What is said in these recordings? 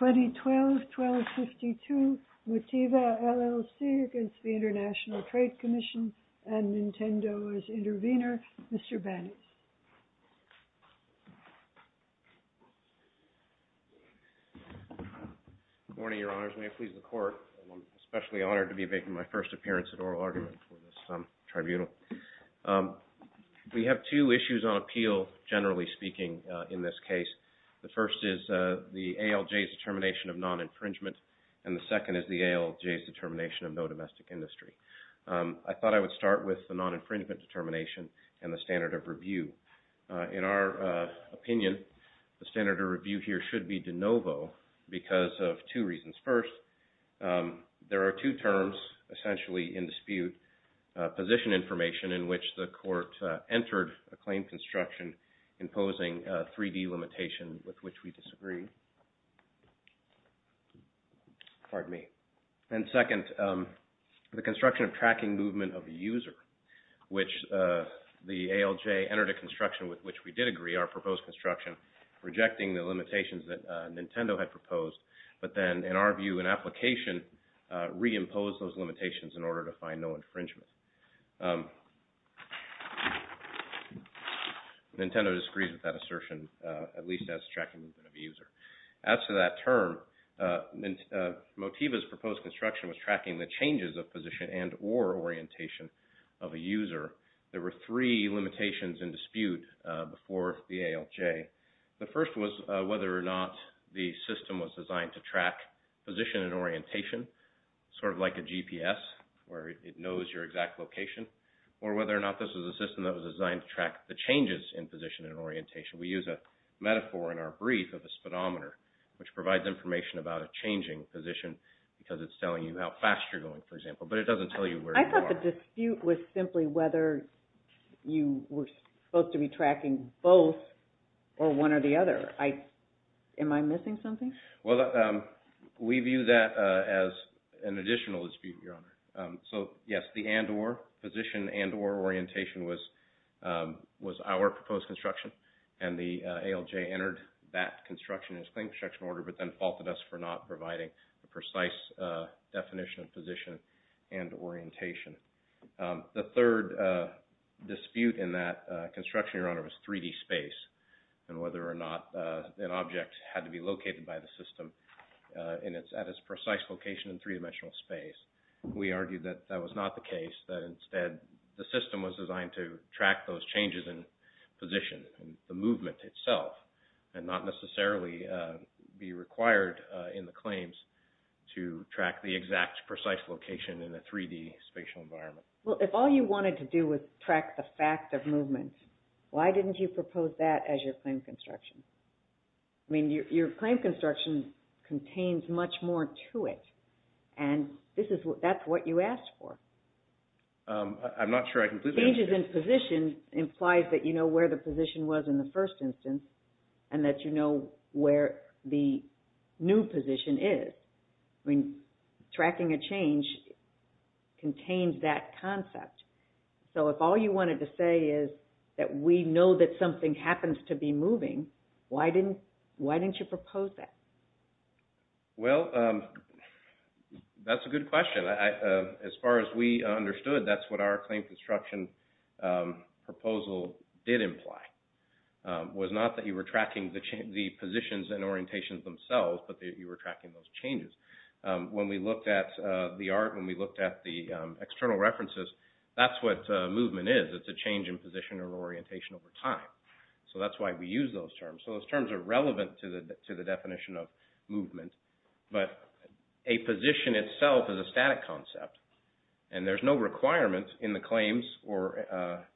1252, MOTIVA LLC v. ITC, and Nintendo as Intervenor, Mr. Bannis. Good morning, Your Honors. May it please the Court, I'm especially honored to be making my first appearance at oral argument for this tribunal. We have two issues on appeal, generally speaking, in this case. The first is the ALJ's determination of non-infringement, and the second is the ALJ's determination of no domestic industry. I thought I would start with the non-infringement determination and the standard of review. In our opinion, the standard of review essentially in dispute position information in which the Court entered a claim construction imposing a 3D limitation with which we disagree. And second, the construction of tracking movement of the user, which the ALJ entered a construction with which we did agree, our proposed construction, rejecting the limitations that Nintendo had proposed, but then, in our view, in application, reimposed those limitations in order to find no infringement. Nintendo disagrees with that assertion, at least as tracking movement of the user. As to that term, MOTIVA's proposed construction was tracking the changes of position and or orientation of a user. There were three limitations in dispute before the ALJ. The first was whether or not the system was designed to track position and orientation, sort of like a GPS, where it knows your exact location, or whether or not this was a system that was designed to track the changes in position and orientation. We use a metaphor in our brief of a speedometer, which provides information about a changing position because it's telling you how fast you're going, for example, but it doesn't tell you where you are. I thought the dispute was simply whether you were supposed to be tracking both, or one or the other. Am I missing something? Well, we view that as an additional dispute, Your Honor. So, yes, the and or, position and or orientation was our proposed construction, and the ALJ entered that construction in its plain construction order, but then faulted us for not providing a precise definition of position and orientation. The third dispute in that construction, Your Honor, was 3D space and whether or not an object had to be located by the system at its precise location in three-dimensional space. We argued that that was not the case, that instead the system was designed to track those changes in position and the movement itself, and not necessarily be required in the claims to track the exact precise location in the 3D spatial environment. Well, if all you wanted to do was track the fact of movement, why didn't you propose that as your claim construction? I mean, your claim construction contains much more to it, and this is what, that's what you asked for. I'm not sure I completely Changes in position implies that you know where the position was in the first instance, and that you know where the new position is. I mean, tracking a change contains that concept, so if all you wanted to say is that we know that something happens to be moving, why didn't, why didn't you propose that? Well, that's a good question. As far as we understood, that's what our claim construction proposal did imply, was not that you were tracking the positions and orientations themselves, but that you were tracking those changes. When we looked at the art, when we looked at the external references, that's what movement is. It's a change in position or orientation over time. So that's why we use those terms. So those terms are relevant to the definition of movement, but a position itself is a static concept, and there's no requirement in the claims or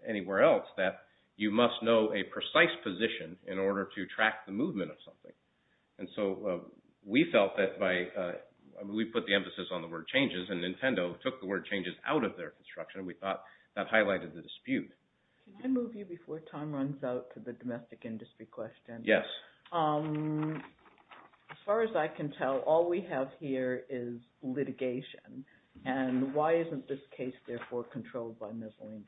anywhere else that you must know a precise position in order to track the movement of something. And so we felt that by, we put the emphasis on the word changes, and Nintendo took the word changes out of their construction. We thought that highlighted the dispute. Can I move you before time to tell, all we have here is litigation, and why isn't this case therefore controlled by miscellaneous,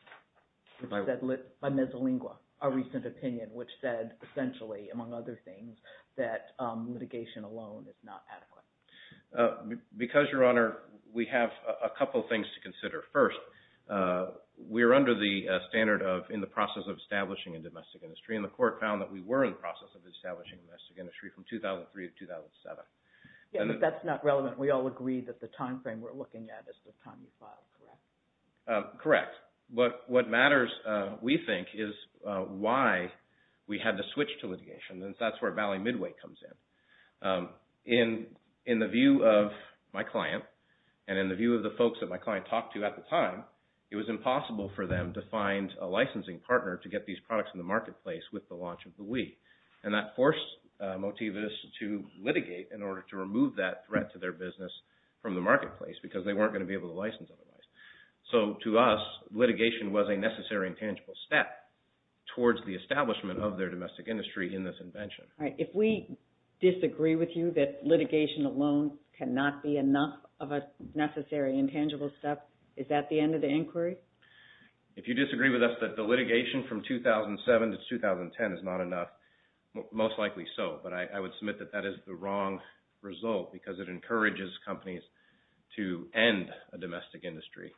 by miscellaneous, a recent opinion which said essentially, among other things, that litigation alone is not adequate? Because, Your Honor, we have a couple things to consider. First, we're under the standard of in the process of establishing a domestic industry, and the court found that we were in the process of establishing domestic industry from 2003 to 2007. Yeah, but that's not relevant. We all agree that the time frame we're looking at is the time you filed, correct? Correct. But what matters, we think, is why we had to switch to litigation, and that's where Valley Midway comes in. In the view of my client, and in the view of the folks that my client talked to at the time, it was impossible for them to find a licensing partner to get these products in the marketplace with the launch of the Wii. And that forced Motivus to litigate in order to remove that threat to their business from the marketplace, because they weren't going to be able to license otherwise. So, to us, litigation was a necessary and tangible step towards the establishment of their domestic industry in this invention. All right, if we disagree with you that litigation alone cannot be enough of a necessary and tangible step, is that the end of the inquiry? If you disagree with us that the litigation from 2007 to 2010 is not enough, most likely so. But I would submit that that is the wrong result because it encourages companies to end a domestic industry,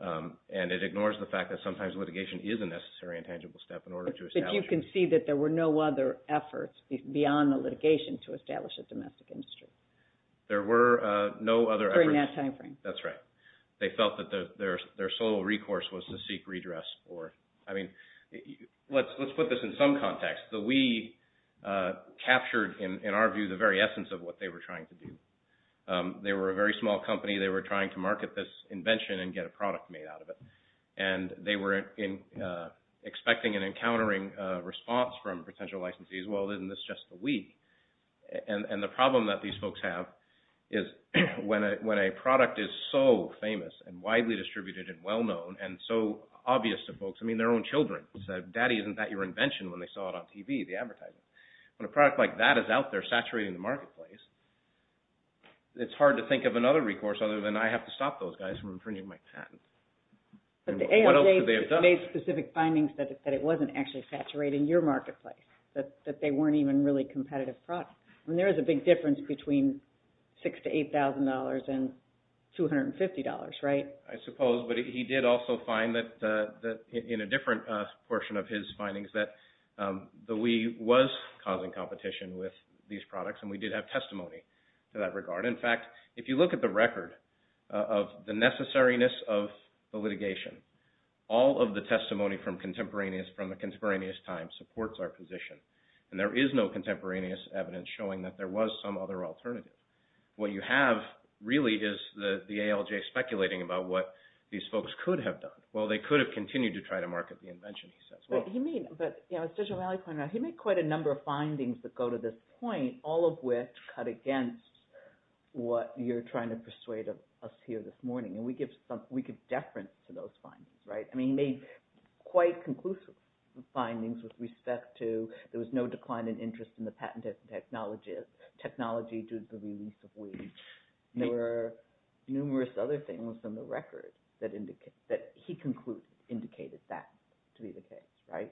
and it ignores the fact that sometimes litigation is a necessary and tangible step in order to establish... But you can see that there were no other efforts beyond the litigation to establish a domestic industry. There were no other efforts... During that time frame. That's right. They felt that their sole recourse was to seek the Wii. In some contexts, the Wii captured, in our view, the very essence of what they were trying to do. They were a very small company. They were trying to market this invention and get a product made out of it. And they were expecting and encountering a response from potential licensees, well, isn't this just the Wii? And the problem that these folks have is when a product is so famous and widely distributed and well-known and so obvious to folks, I mean, their own children said, Daddy, isn't that your invention when they saw it on TV, the advertising? When a product like that is out there saturating the marketplace, it's hard to think of another recourse other than I have to stop those guys from infringing my patent. What else could they have done? But the ALJ made specific findings that it wasn't actually saturating your marketplace, that they weren't even really competitive products. I mean, there is a big difference between $6,000 and $8,000 and $250, right? I suppose. But he did also find that in a different portion of his findings that the Wii was causing competition with these products, and we did have testimony to that regard. In fact, if you look at the record of the necessariness of the litigation, all of the testimony from the contemporaneous time supports our position. And there is no really is the ALJ speculating about what these folks could have done. Well, they could have continued to try to market the invention, he says. But he made quite a number of findings that go to this point, all of which cut against what you're trying to persuade of us here this morning. And we give deference to those findings, right? I mean, he made quite conclusive findings with respect to there was no decline in interest in the patented technology due to the release of Wii. There were numerous other things in the record that he concluded indicated that to be the case, right?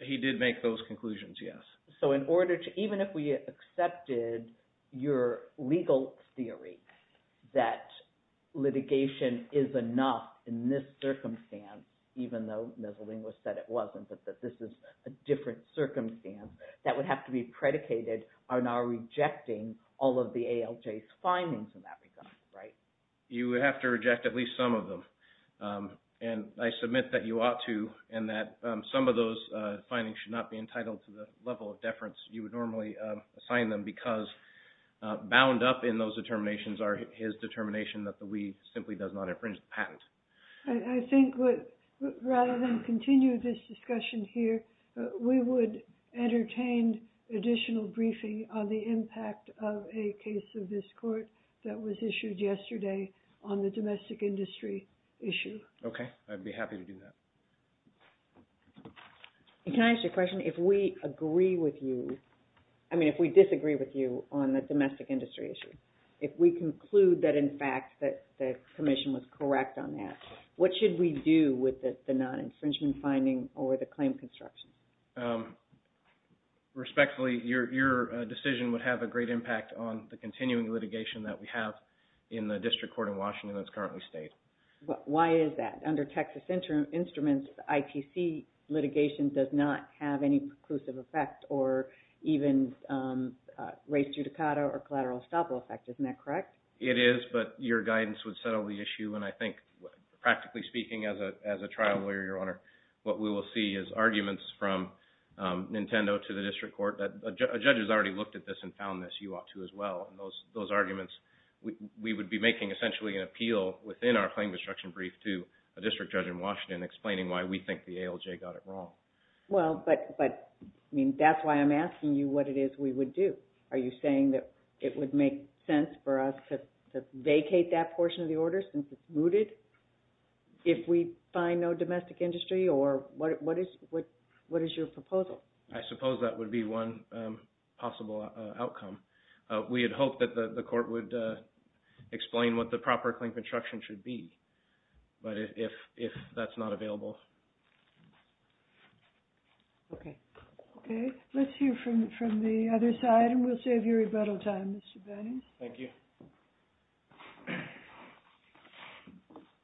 He did make those conclusions, yes. So in order to, even if we accepted your legal theory that litigation is enough in this circumstance, even though miscellaneous said it wasn't, but that this is a different circumstance, that would have to be predicated on our rejecting all of the ALJ's findings in that regard, right? You would have to reject at least some of them. And I submit that you ought to, and that some of those findings should not be entitled to the level of deference you would normally assign them because bound up in those determinations are his determination that the Wii simply does not infringe the patent. I think rather than continue this discussion here, we would entertain additional briefing on the impact of a case of this court that was issued yesterday on the domestic industry issue. Okay. I'd be happy to do that. Can I ask you a question? If we agree with you, I mean, if we disagree with you on the domestic industry issue, if we conclude that in fact that the commission was correct on that, what should we do with the non-infringement finding or the claim construction? Respectfully, your decision would have a great impact on the continuing litigation that we have in the district court in Washington that's currently state. Why is that? Under Texas instruments, ITC litigation does not have any preclusive effect or even race judicata or collateral estoppel effect. Isn't that correct? It is, but your guidance would settle the issue. And I think practically speaking as a trial lawyer, your honor, what we will see is arguments from Nintendo to the district court that a judge has already looked at this and found this, you ought to as well. And those arguments, we would be making essentially an appeal within our claim construction brief to a district judge in Washington explaining why we think the ALJ got it wrong. Well, but I mean that's why I'm asking you what it is we would do. Are you saying that it would make sense for us to if we find no domestic industry or what is your proposal? I suppose that would be one possible outcome. We had hoped that the court would explain what the proper claim construction should be, but if that's not available. Okay. Okay, let's hear from the other side and we'll have your rebuttal time, Mr. Berns. Thank you.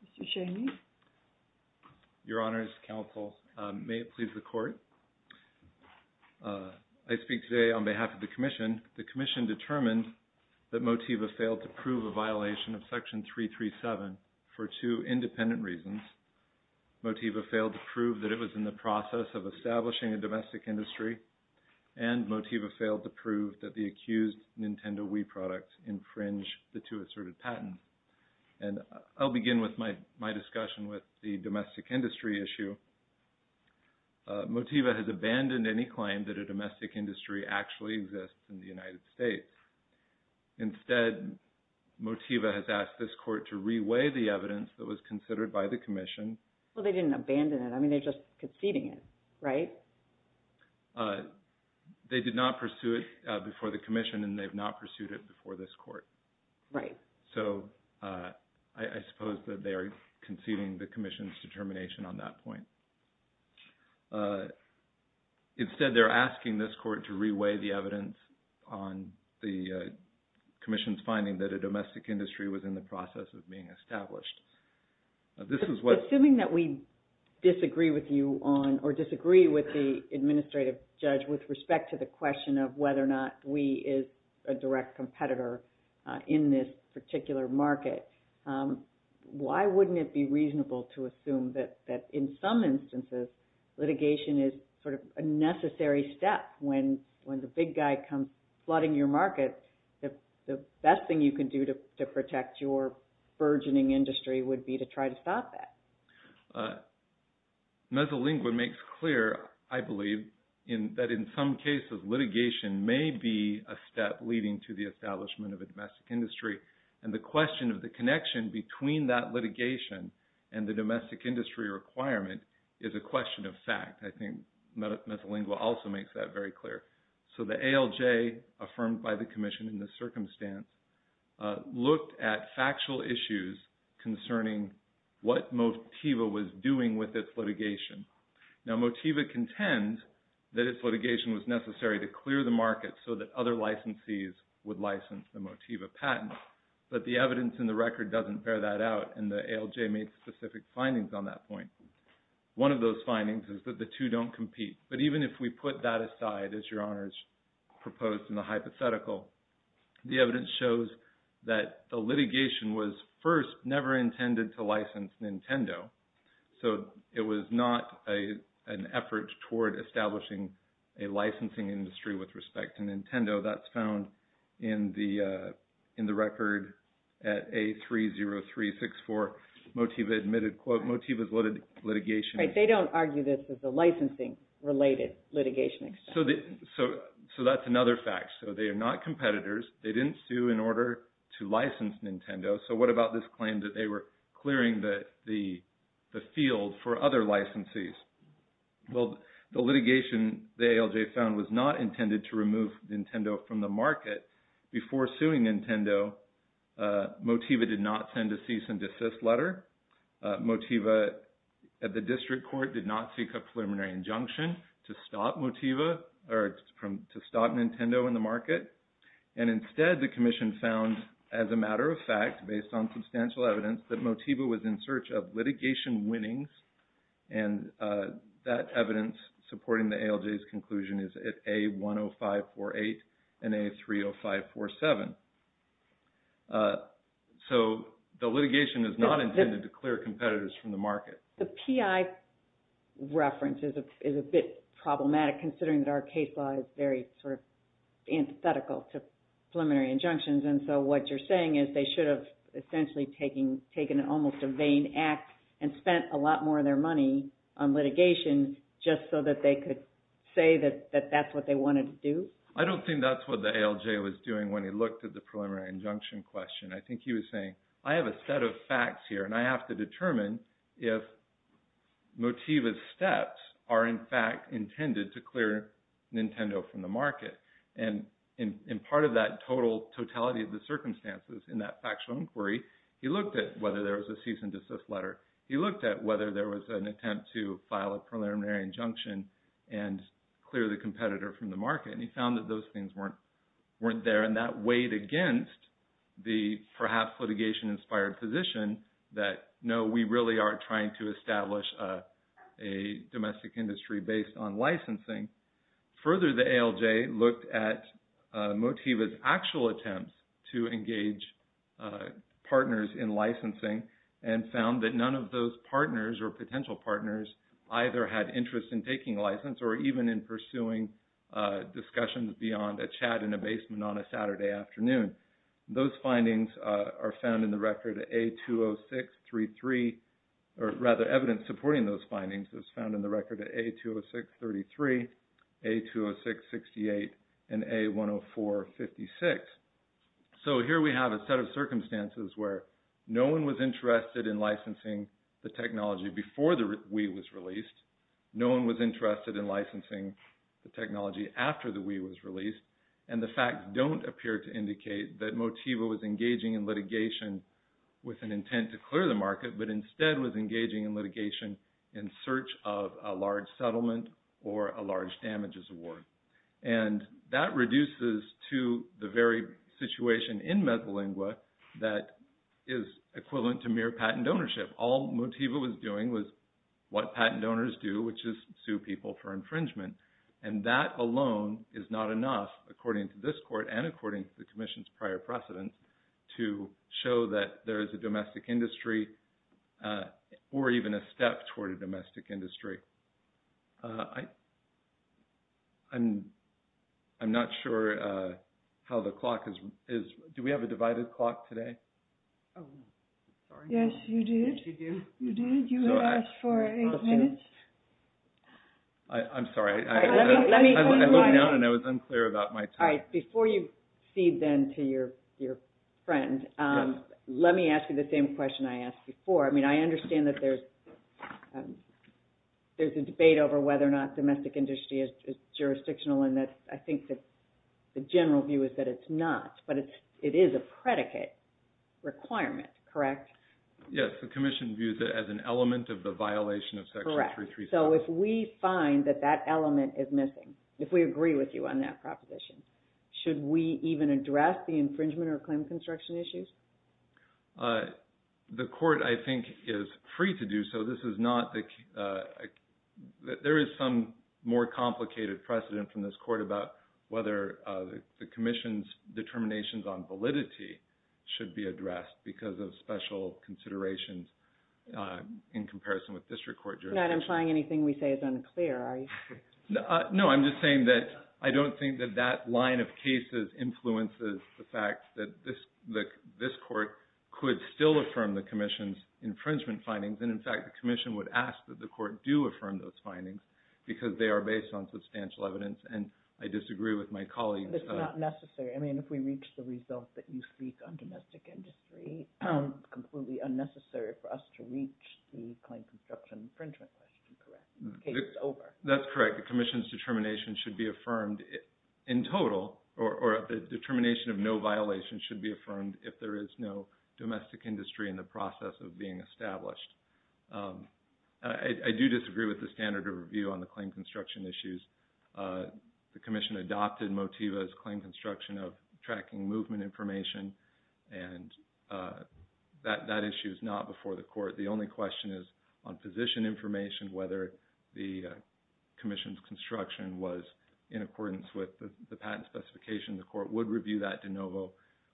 Mr. Cheney. Your honors, counsel, may it please the court. I speak today on behalf of the commission. The commission determined that Motiva failed to prove a violation of section 337 for two independent reasons. Motiva failed to prove that it was in the process of establishing a domestic industry and Motiva failed to prove that the accused Nintendo Wii products infringe the two asserted patents. And I'll begin with my discussion with the domestic industry issue. Motiva has abandoned any claim that a domestic industry actually exists in the United States. Instead, Motiva has asked this court to reweigh the evidence that was considered by the commission. Well, they didn't abandon it. I mean, the commission and they've not pursued it before this court. Right. So I suppose that they are conceding the commission's determination on that point. Instead, they're asking this court to reweigh the evidence on the commission's finding that a domestic industry was in the process of being established. Assuming that we disagree with you on or disagree with the Wii as a direct competitor in this particular market, why wouldn't it be reasonable to assume that in some instances litigation is sort of a necessary step when the big guy comes flooding your market? The best thing you can do to protect your burgeoning industry would be to try to stop that. Mesolingua makes clear, I believe, that in some cases litigation may be a step leading to the establishment of a domestic industry. And the question of the connection between that litigation and the domestic industry requirement is a question of fact. I think Mesolingua also makes that very clear. So the ALJ, affirmed by the commission in this circumstance, looked at factual issues concerning what Motiva was doing with its litigation. Now Motiva contends that its litigation was necessary to clear the market so that other licensees would license the Motiva patent. But the evidence in the record doesn't bear that out, and the ALJ made specific findings on that point. One of those findings is that the two don't compete. But even if we put that aside, as Your Honors proposed in the hypothetical, the evidence shows that the litigation was first never intended to license Nintendo. So it was not an effort toward establishing a licensing industry with respect to Nintendo. That's found in the record at A30364. Motiva admitted, quote, Motiva's litigation... Right. They don't argue this as a licensing-related litigation. So that's another fact. So they are not competitors. They didn't sue in order to license Nintendo. So what about this claim that they were clearing the field for other licensees? Well, the litigation the ALJ found was not intended to remove Nintendo from the market. Before suing Nintendo, Motiva did not send a cease and desist letter. Motiva at the district or to stop Nintendo in the market. And instead, the commission found, as a matter of fact, based on substantial evidence, that Motiva was in search of litigation winnings. And that evidence supporting the ALJ's conclusion is at A10548 and A30547. So the litigation is not intended to clear competitors from the market. The PI reference is a bit problematic considering that our case law is very sort of antithetical to preliminary injunctions. And so what you're saying is they should have essentially taken an almost a vain act and spent a lot more of their money on litigation just so that they could say that that's what they wanted to do? I don't think that's what the ALJ was doing when he looked at the preliminary injunction question. I think he was saying, I have a set of facts here and I have to determine if Motiva's steps are in fact intended to clear Nintendo from the market. And in part of that total totality of the circumstances in that factual inquiry, he looked at whether there was a cease and desist letter. He looked at whether there was an attempt to file a preliminary injunction and clear the competitor from the market. And he found that those things weren't there. And that weighed against the perhaps litigation inspired position that no, we really are trying to establish a domestic industry based on licensing. Further, the ALJ looked at Motiva's actual attempts to engage partners in licensing and found that none of those partners or potential partners either had interest in taking license or even in pursuing discussions beyond a chat in a basement on a Saturday afternoon. Those findings are found in the record A-206-33, or rather evidence supporting those findings is found in the record A-206-33, A-206-68, and A-104-56. So here we have a set of circumstances where no one was interested in licensing the technology before the Wii was released. No one was interested in licensing the technology after the Wii was released. And that doesn't appear to indicate that Motiva was engaging in litigation with an intent to clear the market, but instead was engaging in litigation in search of a large settlement or a large damages award. And that reduces to the very situation in Mesolingua that is equivalent to mere patent ownership. All Motiva was doing was what patent donors do, which is sue people for infringement. And that alone is not enough, according to this court and according to the commission's prior precedent, to show that there is a domestic industry or even a step toward a domestic industry. I'm not sure how the clock is. Do we have a divided clock today? Yes, you do. You did. You asked for eight minutes. I'm sorry. I looked down and I was unclear about my time. All right. Before you feed then to your friend, let me ask you the same question I asked before. I mean, I understand that there's a debate over whether or not domestic industry is jurisdictional and that I think that the general view is that it's not, but it is a predicate requirement, correct? Yes. The commission views it as an element of the violation of Section 337. Correct. So if we find that that element is missing, if we agree with you on that proposition, should we even address the infringement or claim construction issues? The court, I think, is free to do so. There is some more complicated precedent from this court about whether the commission's determinations on validity should be addressed because of special considerations in comparison with district court jurisdiction. I'm not implying anything we say is unclear, are you? No, I'm just saying that I don't think that that line of cases influences the fact that this court could still affirm the commission's infringement findings. And in fact, the commission would ask that the court do affirm those findings because they are based on substantial evidence. And I disagree with my colleagues. That's not necessary. I mean, if we reach the result that you speak on domestic industry, it's completely unnecessary for us to reach the claim construction infringement question, correct? The case is over. That's correct. The commission's determination should be affirmed in total, or the determination of no violation should be affirmed if there is no domestic industry in the process of being established. I do disagree with the standard of review on the claim construction issues. The commission adopted MOTIVA's claim construction of tracking movement information, and that issue is not before the court. The only question is on position information, whether the commission's construction was in accordance with the patent specification. The court would review that de novo.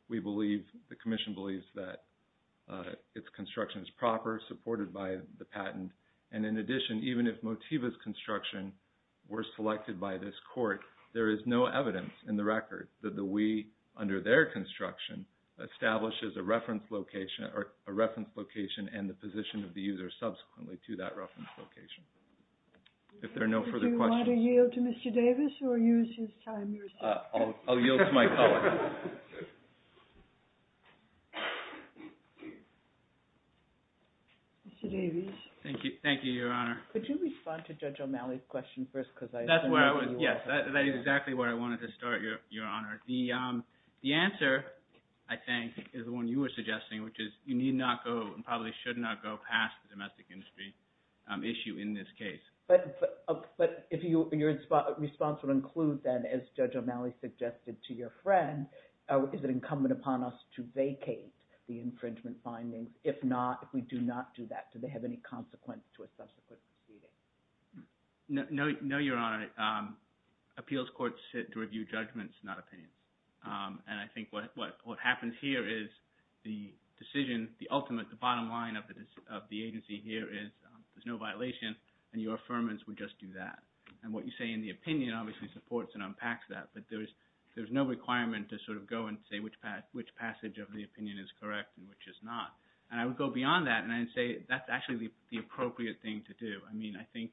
We believe, the commission believes that its construction is proper, supported by the patent. And in addition, even if MOTIVA's construction were selected by this court, there is no evidence in the record that the we, under their construction, establishes a reference location and the position of the user subsequently to that reference location. If there are no further questions. Do you want to yield to Mr. Davis or use his time? I'll yield to my colleague. Mr. Davis. Thank you. Thank you, Your Honor. Could you respond to Judge O'Malley's question first? Because that's where I was. Yes, that is exactly where I wanted to start, Your Honor. The answer, I think, is the one you were suggesting, which is you need not go and probably should not go past the domestic industry issue in this case. But if your response would include that, Judge O'Malley suggested to your friend, is it incumbent upon us to vacate the infringement findings? If not, if we do not do that, do they have any consequence to a subsequent proceeding? No, Your Honor. Appeals courts sit to review judgments, not opinions. And I think what happens here is the decision, the ultimate, the bottom line of the agency here is there's no violation and your affirmance would just do that. And what you say in the opinion obviously supports and unpacks that, but there's no requirement to sort of go and say which passage of the opinion is correct and which is not. And I would go beyond that and say that's actually the appropriate thing to do. I mean, I think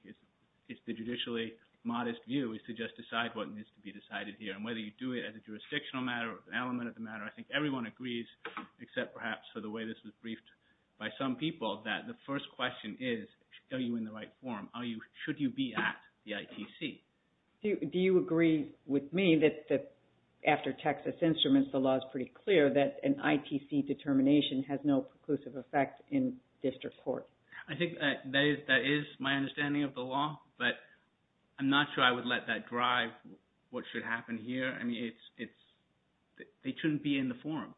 it's the judicially modest view is to just decide what needs to be decided here. And whether you do it as a jurisdictional matter or an element of the matter, I think everyone agrees, except perhaps for the way this was briefed by some people, that the me that after Texas Instruments, the law is pretty clear that an ITC determination has no preclusive effect in district court. I think that is my understanding of the law, but I'm not sure I would let that drive what should happen here. I mean, they shouldn't be in the forum.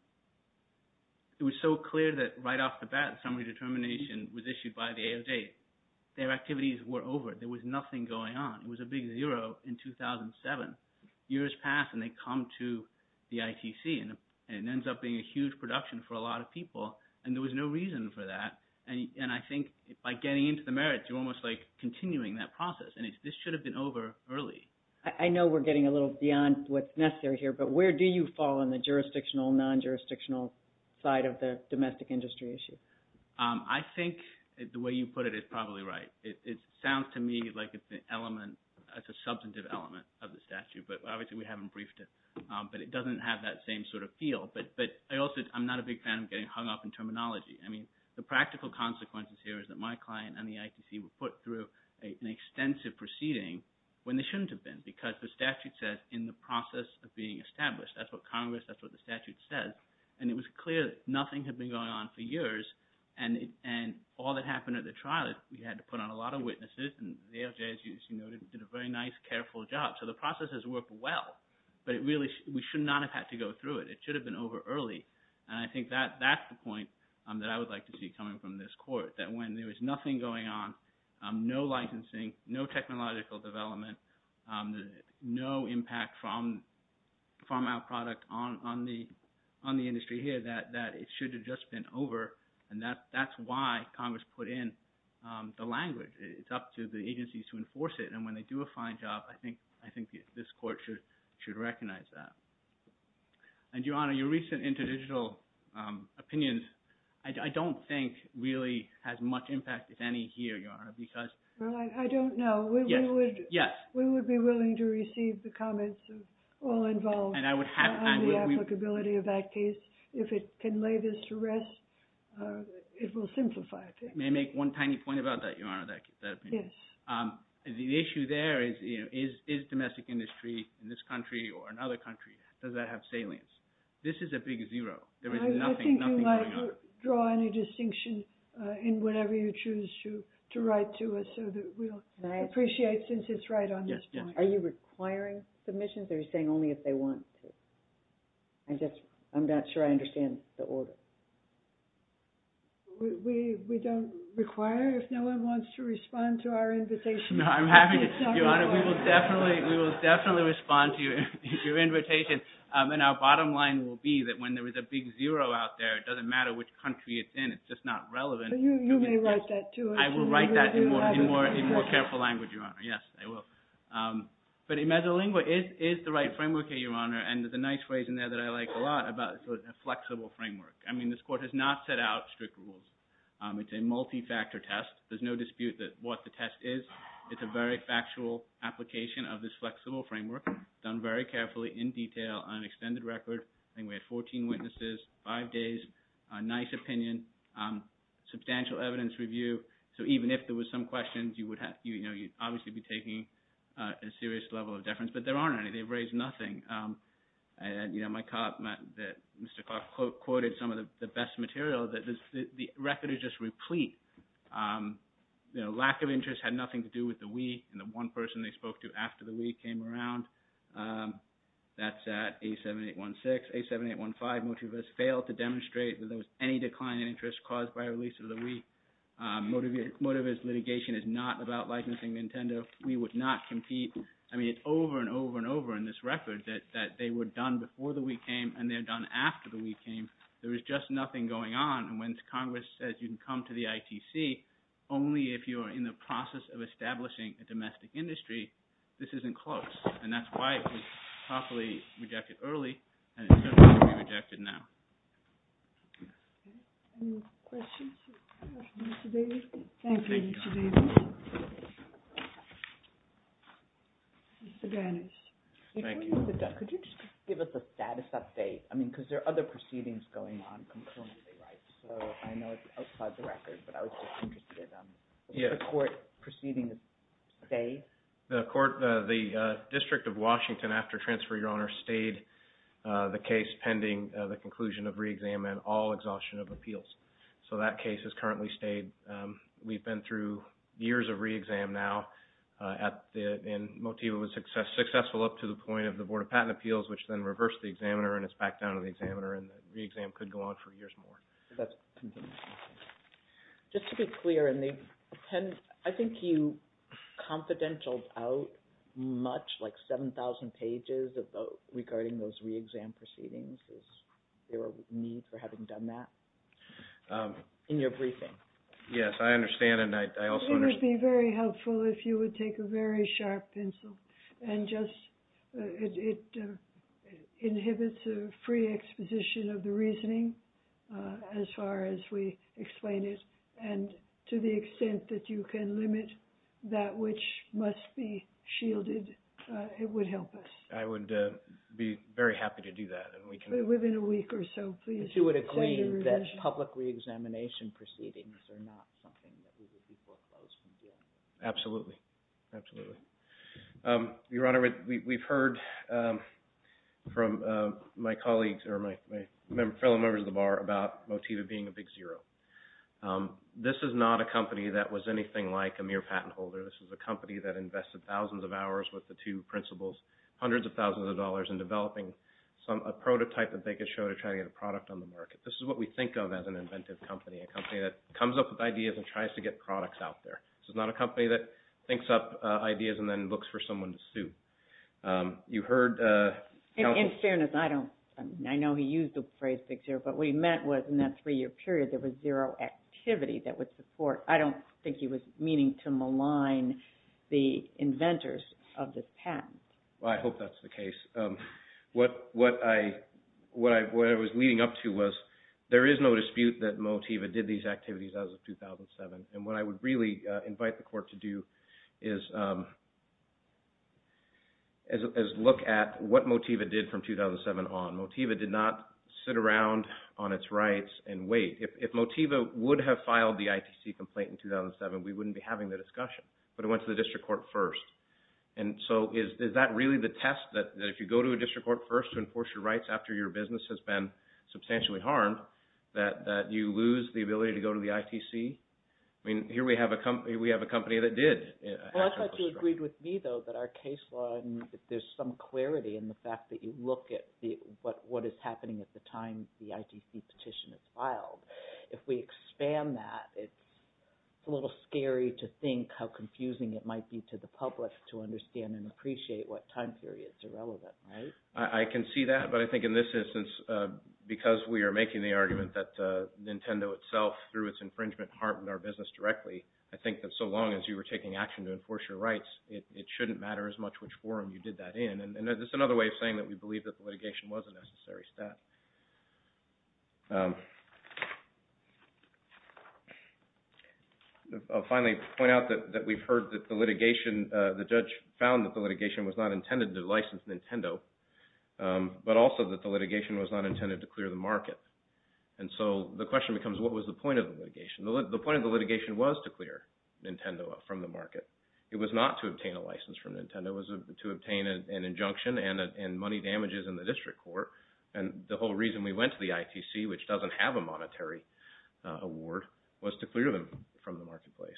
It was so clear that right off the bat, summary determination was issued by the AOJ. Their activities were over. There was nothing going on. It was a big zero in 2007. Years pass and they come to the ITC and it ends up being a huge production for a lot of people. And there was no reason for that. And I think by getting into the merits, you're almost like continuing that process. And this should have been over early. I know we're getting a little beyond what's necessary here, but where do you fall on the jurisdictional, non-jurisdictional side of the right? It sounds to me like it's the element, it's a substantive element of the statute, but obviously we haven't briefed it. But it doesn't have that same sort of feel, but I also, I'm not a big fan of getting hung up in terminology. I mean, the practical consequences here is that my client and the ITC were put through an extensive proceeding when they shouldn't have been because the statute says in the process of being established, that's what Congress, that's what the statute says. And it was clear that nothing had been going on for years. And all that happened at the trial, we had to put on a lot of witnesses and the AFJS did a very nice, careful job. So the process has worked well, but it really, we should not have had to go through it. It should have been over early. And I think that's the point that I would like to see coming from this court, that when there was nothing going on, no licensing, no technological development, no impact from our product on the industry here, that it should have just been over. And that's why Congress put in the language. It's up to the agencies to enforce it. And when they do a fine job, I think this court should recognize that. And Your Honor, your recent interdigital opinions, I don't think really has much impact, if any, here, Your Honor, because- Well, I don't know. We would be willing to receive the comments of all involved on the applicability of that case. If it can lay this to rest, it will simplify things. May I make one tiny point about that, Your Honor, that opinion? Yes. The issue there is, is domestic industry in this country or another country, does that have salience? This is a big zero. There is nothing going on. I think you might draw any distinction in whatever you choose to write to us so that we'll appreciate since it's right on this point. Are you requiring submissions or saying only if they want to? I'm not sure I understand the order. We don't require if no one wants to respond to our invitation. I'm happy, Your Honor. We will definitely respond to your invitation. And our bottom line will be that when there is a big zero out there, it doesn't matter which country it's in. It's just not relevant. You may write that too. I will write that in more careful language, Your Honor. Yes, I will. But a mezzolingua is the right framework here, Your Honor. And there's a nice phrase in there that I like a lot about a flexible framework. I mean, this Court has not set out strict rules. It's a multi-factor test. There's no dispute that what the test is. It's a very factual application of this flexible framework, done very carefully, in detail, on an extended record. I think we had 14 witnesses, five days, a nice opinion, substantial evidence review. So even if there were some questions, you'd obviously be taking a serious level of deference. But there aren't any. They've raised nothing. Mr. Clark quoted some of the best material. The record is just replete. Lack of interest had nothing to do with the week. And the one person they spoke to after the week came around, that's at A7816. A7815, most of us failed to demonstrate that there was any decline in interest caused by a release of the week. Motivist litigation is not about likeness in Nintendo. We would not compete. I mean, it's over and over and over in this record that they were done before the week came, and they're done after the week came. There was just nothing going on. And when Congress says you can come to the ITC only if you are in the process of establishing a domestic industry, this isn't close. And that's why it was properly rejected early, and it certainly won't be rejected now. Any questions for Mr. Davis? Thank you, Mr. Davis. Mr. Gannis. Thank you. Could you just give us a status update? I mean, because there are other proceedings going on concurrently, right? So I know it's outside the record, but I was just interested in the court proceedings today. The court, the District of Washington, after transfer your honor, stayed the case pending the conclusion of re-exam and all exhaustion of appeals. So that case has currently stayed. We've been through years of re-exam now, and Motivist was successful up to the point of the Board of Patent Appeals, which then reversed the examiner, and it's back down to the examiner, and the re-exam could go on for years more. Just to be clear, I think you confidentialed out much, like 7,000 pages, regarding those re-exam proceedings. Is there a need for having done that in your briefing? Yes, I understand, and I also... It would be very helpful if you would take a very sharp pencil and just, it inhibits a free exposition of the reasoning as far as we explain it, and to the extent that you can limit that which must be shielded, it would help us. I would be very happy to do that, and we can... Within a week or so, please. If you would agree that public re-examination proceedings are not something that we would be foreclosed on doing. Absolutely, absolutely. Your honor, we've heard from my colleagues or my fellow members of the Bar about Motiva being a big zero. This is not a company that was anything like a mere patent holder. This is a company that invested thousands of hours with the two principals, hundreds of thousands of dollars in developing a prototype that they could show to try to get a product on the market. This is what we think of as an inventive company, a company that comes up with ideas and tries to get products out there. This is not a company that thinks up ideas and then looks for someone to sue. You heard... In fairness, I don't... I know he used the phrase big zero, but what he meant was in that three-year period, there was zero activity that would support... I don't think he was meaning to malign the inventors of this patent. I hope that's the case. What I was leading up to was there is no dispute that Motiva did these activities as of as look at what Motiva did from 2007 on. Motiva did not sit around on its rights and wait. If Motiva would have filed the ITC complaint in 2007, we wouldn't be having the discussion, but it went to the district court first. And so is that really the test, that if you go to a district court first to enforce your rights after your business has been substantially harmed, that you lose the ability to go to the ITC? I mean, here we have a company that did. Well, I thought you agreed with me, though, that our case law, there's some clarity in the fact that you look at what is happening at the time the ITC petition is filed. If we expand that, it's a little scary to think how confusing it might be to the public to understand and appreciate what time period is irrelevant, right? I can see that, but I think in this instance, because we are making the argument that Nintendo itself, through its infringement, harmed our business directly, I think that so long as you were taking action to enforce your rights, it shouldn't matter as much which forum you did that in. And this is another way of saying that we believe that the litigation was a necessary step. I'll finally point out that we've heard that the judge found that the litigation was not intended to license Nintendo, but also that the litigation was not intended to clear the market. And so the question becomes, what was the point of the litigation? The point of the litigation was to clear Nintendo from the market. It was not to obtain a license from Nintendo. It was to obtain an injunction and money damages in the district court. And the whole reason we went to the ITC, which doesn't have a monetary award, was to clear them from the marketplace.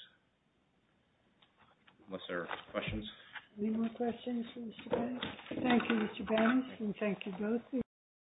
Unless there are questions. Any more questions for Mr. Bennett? Thank you, Mr. Bennett, and thank you both.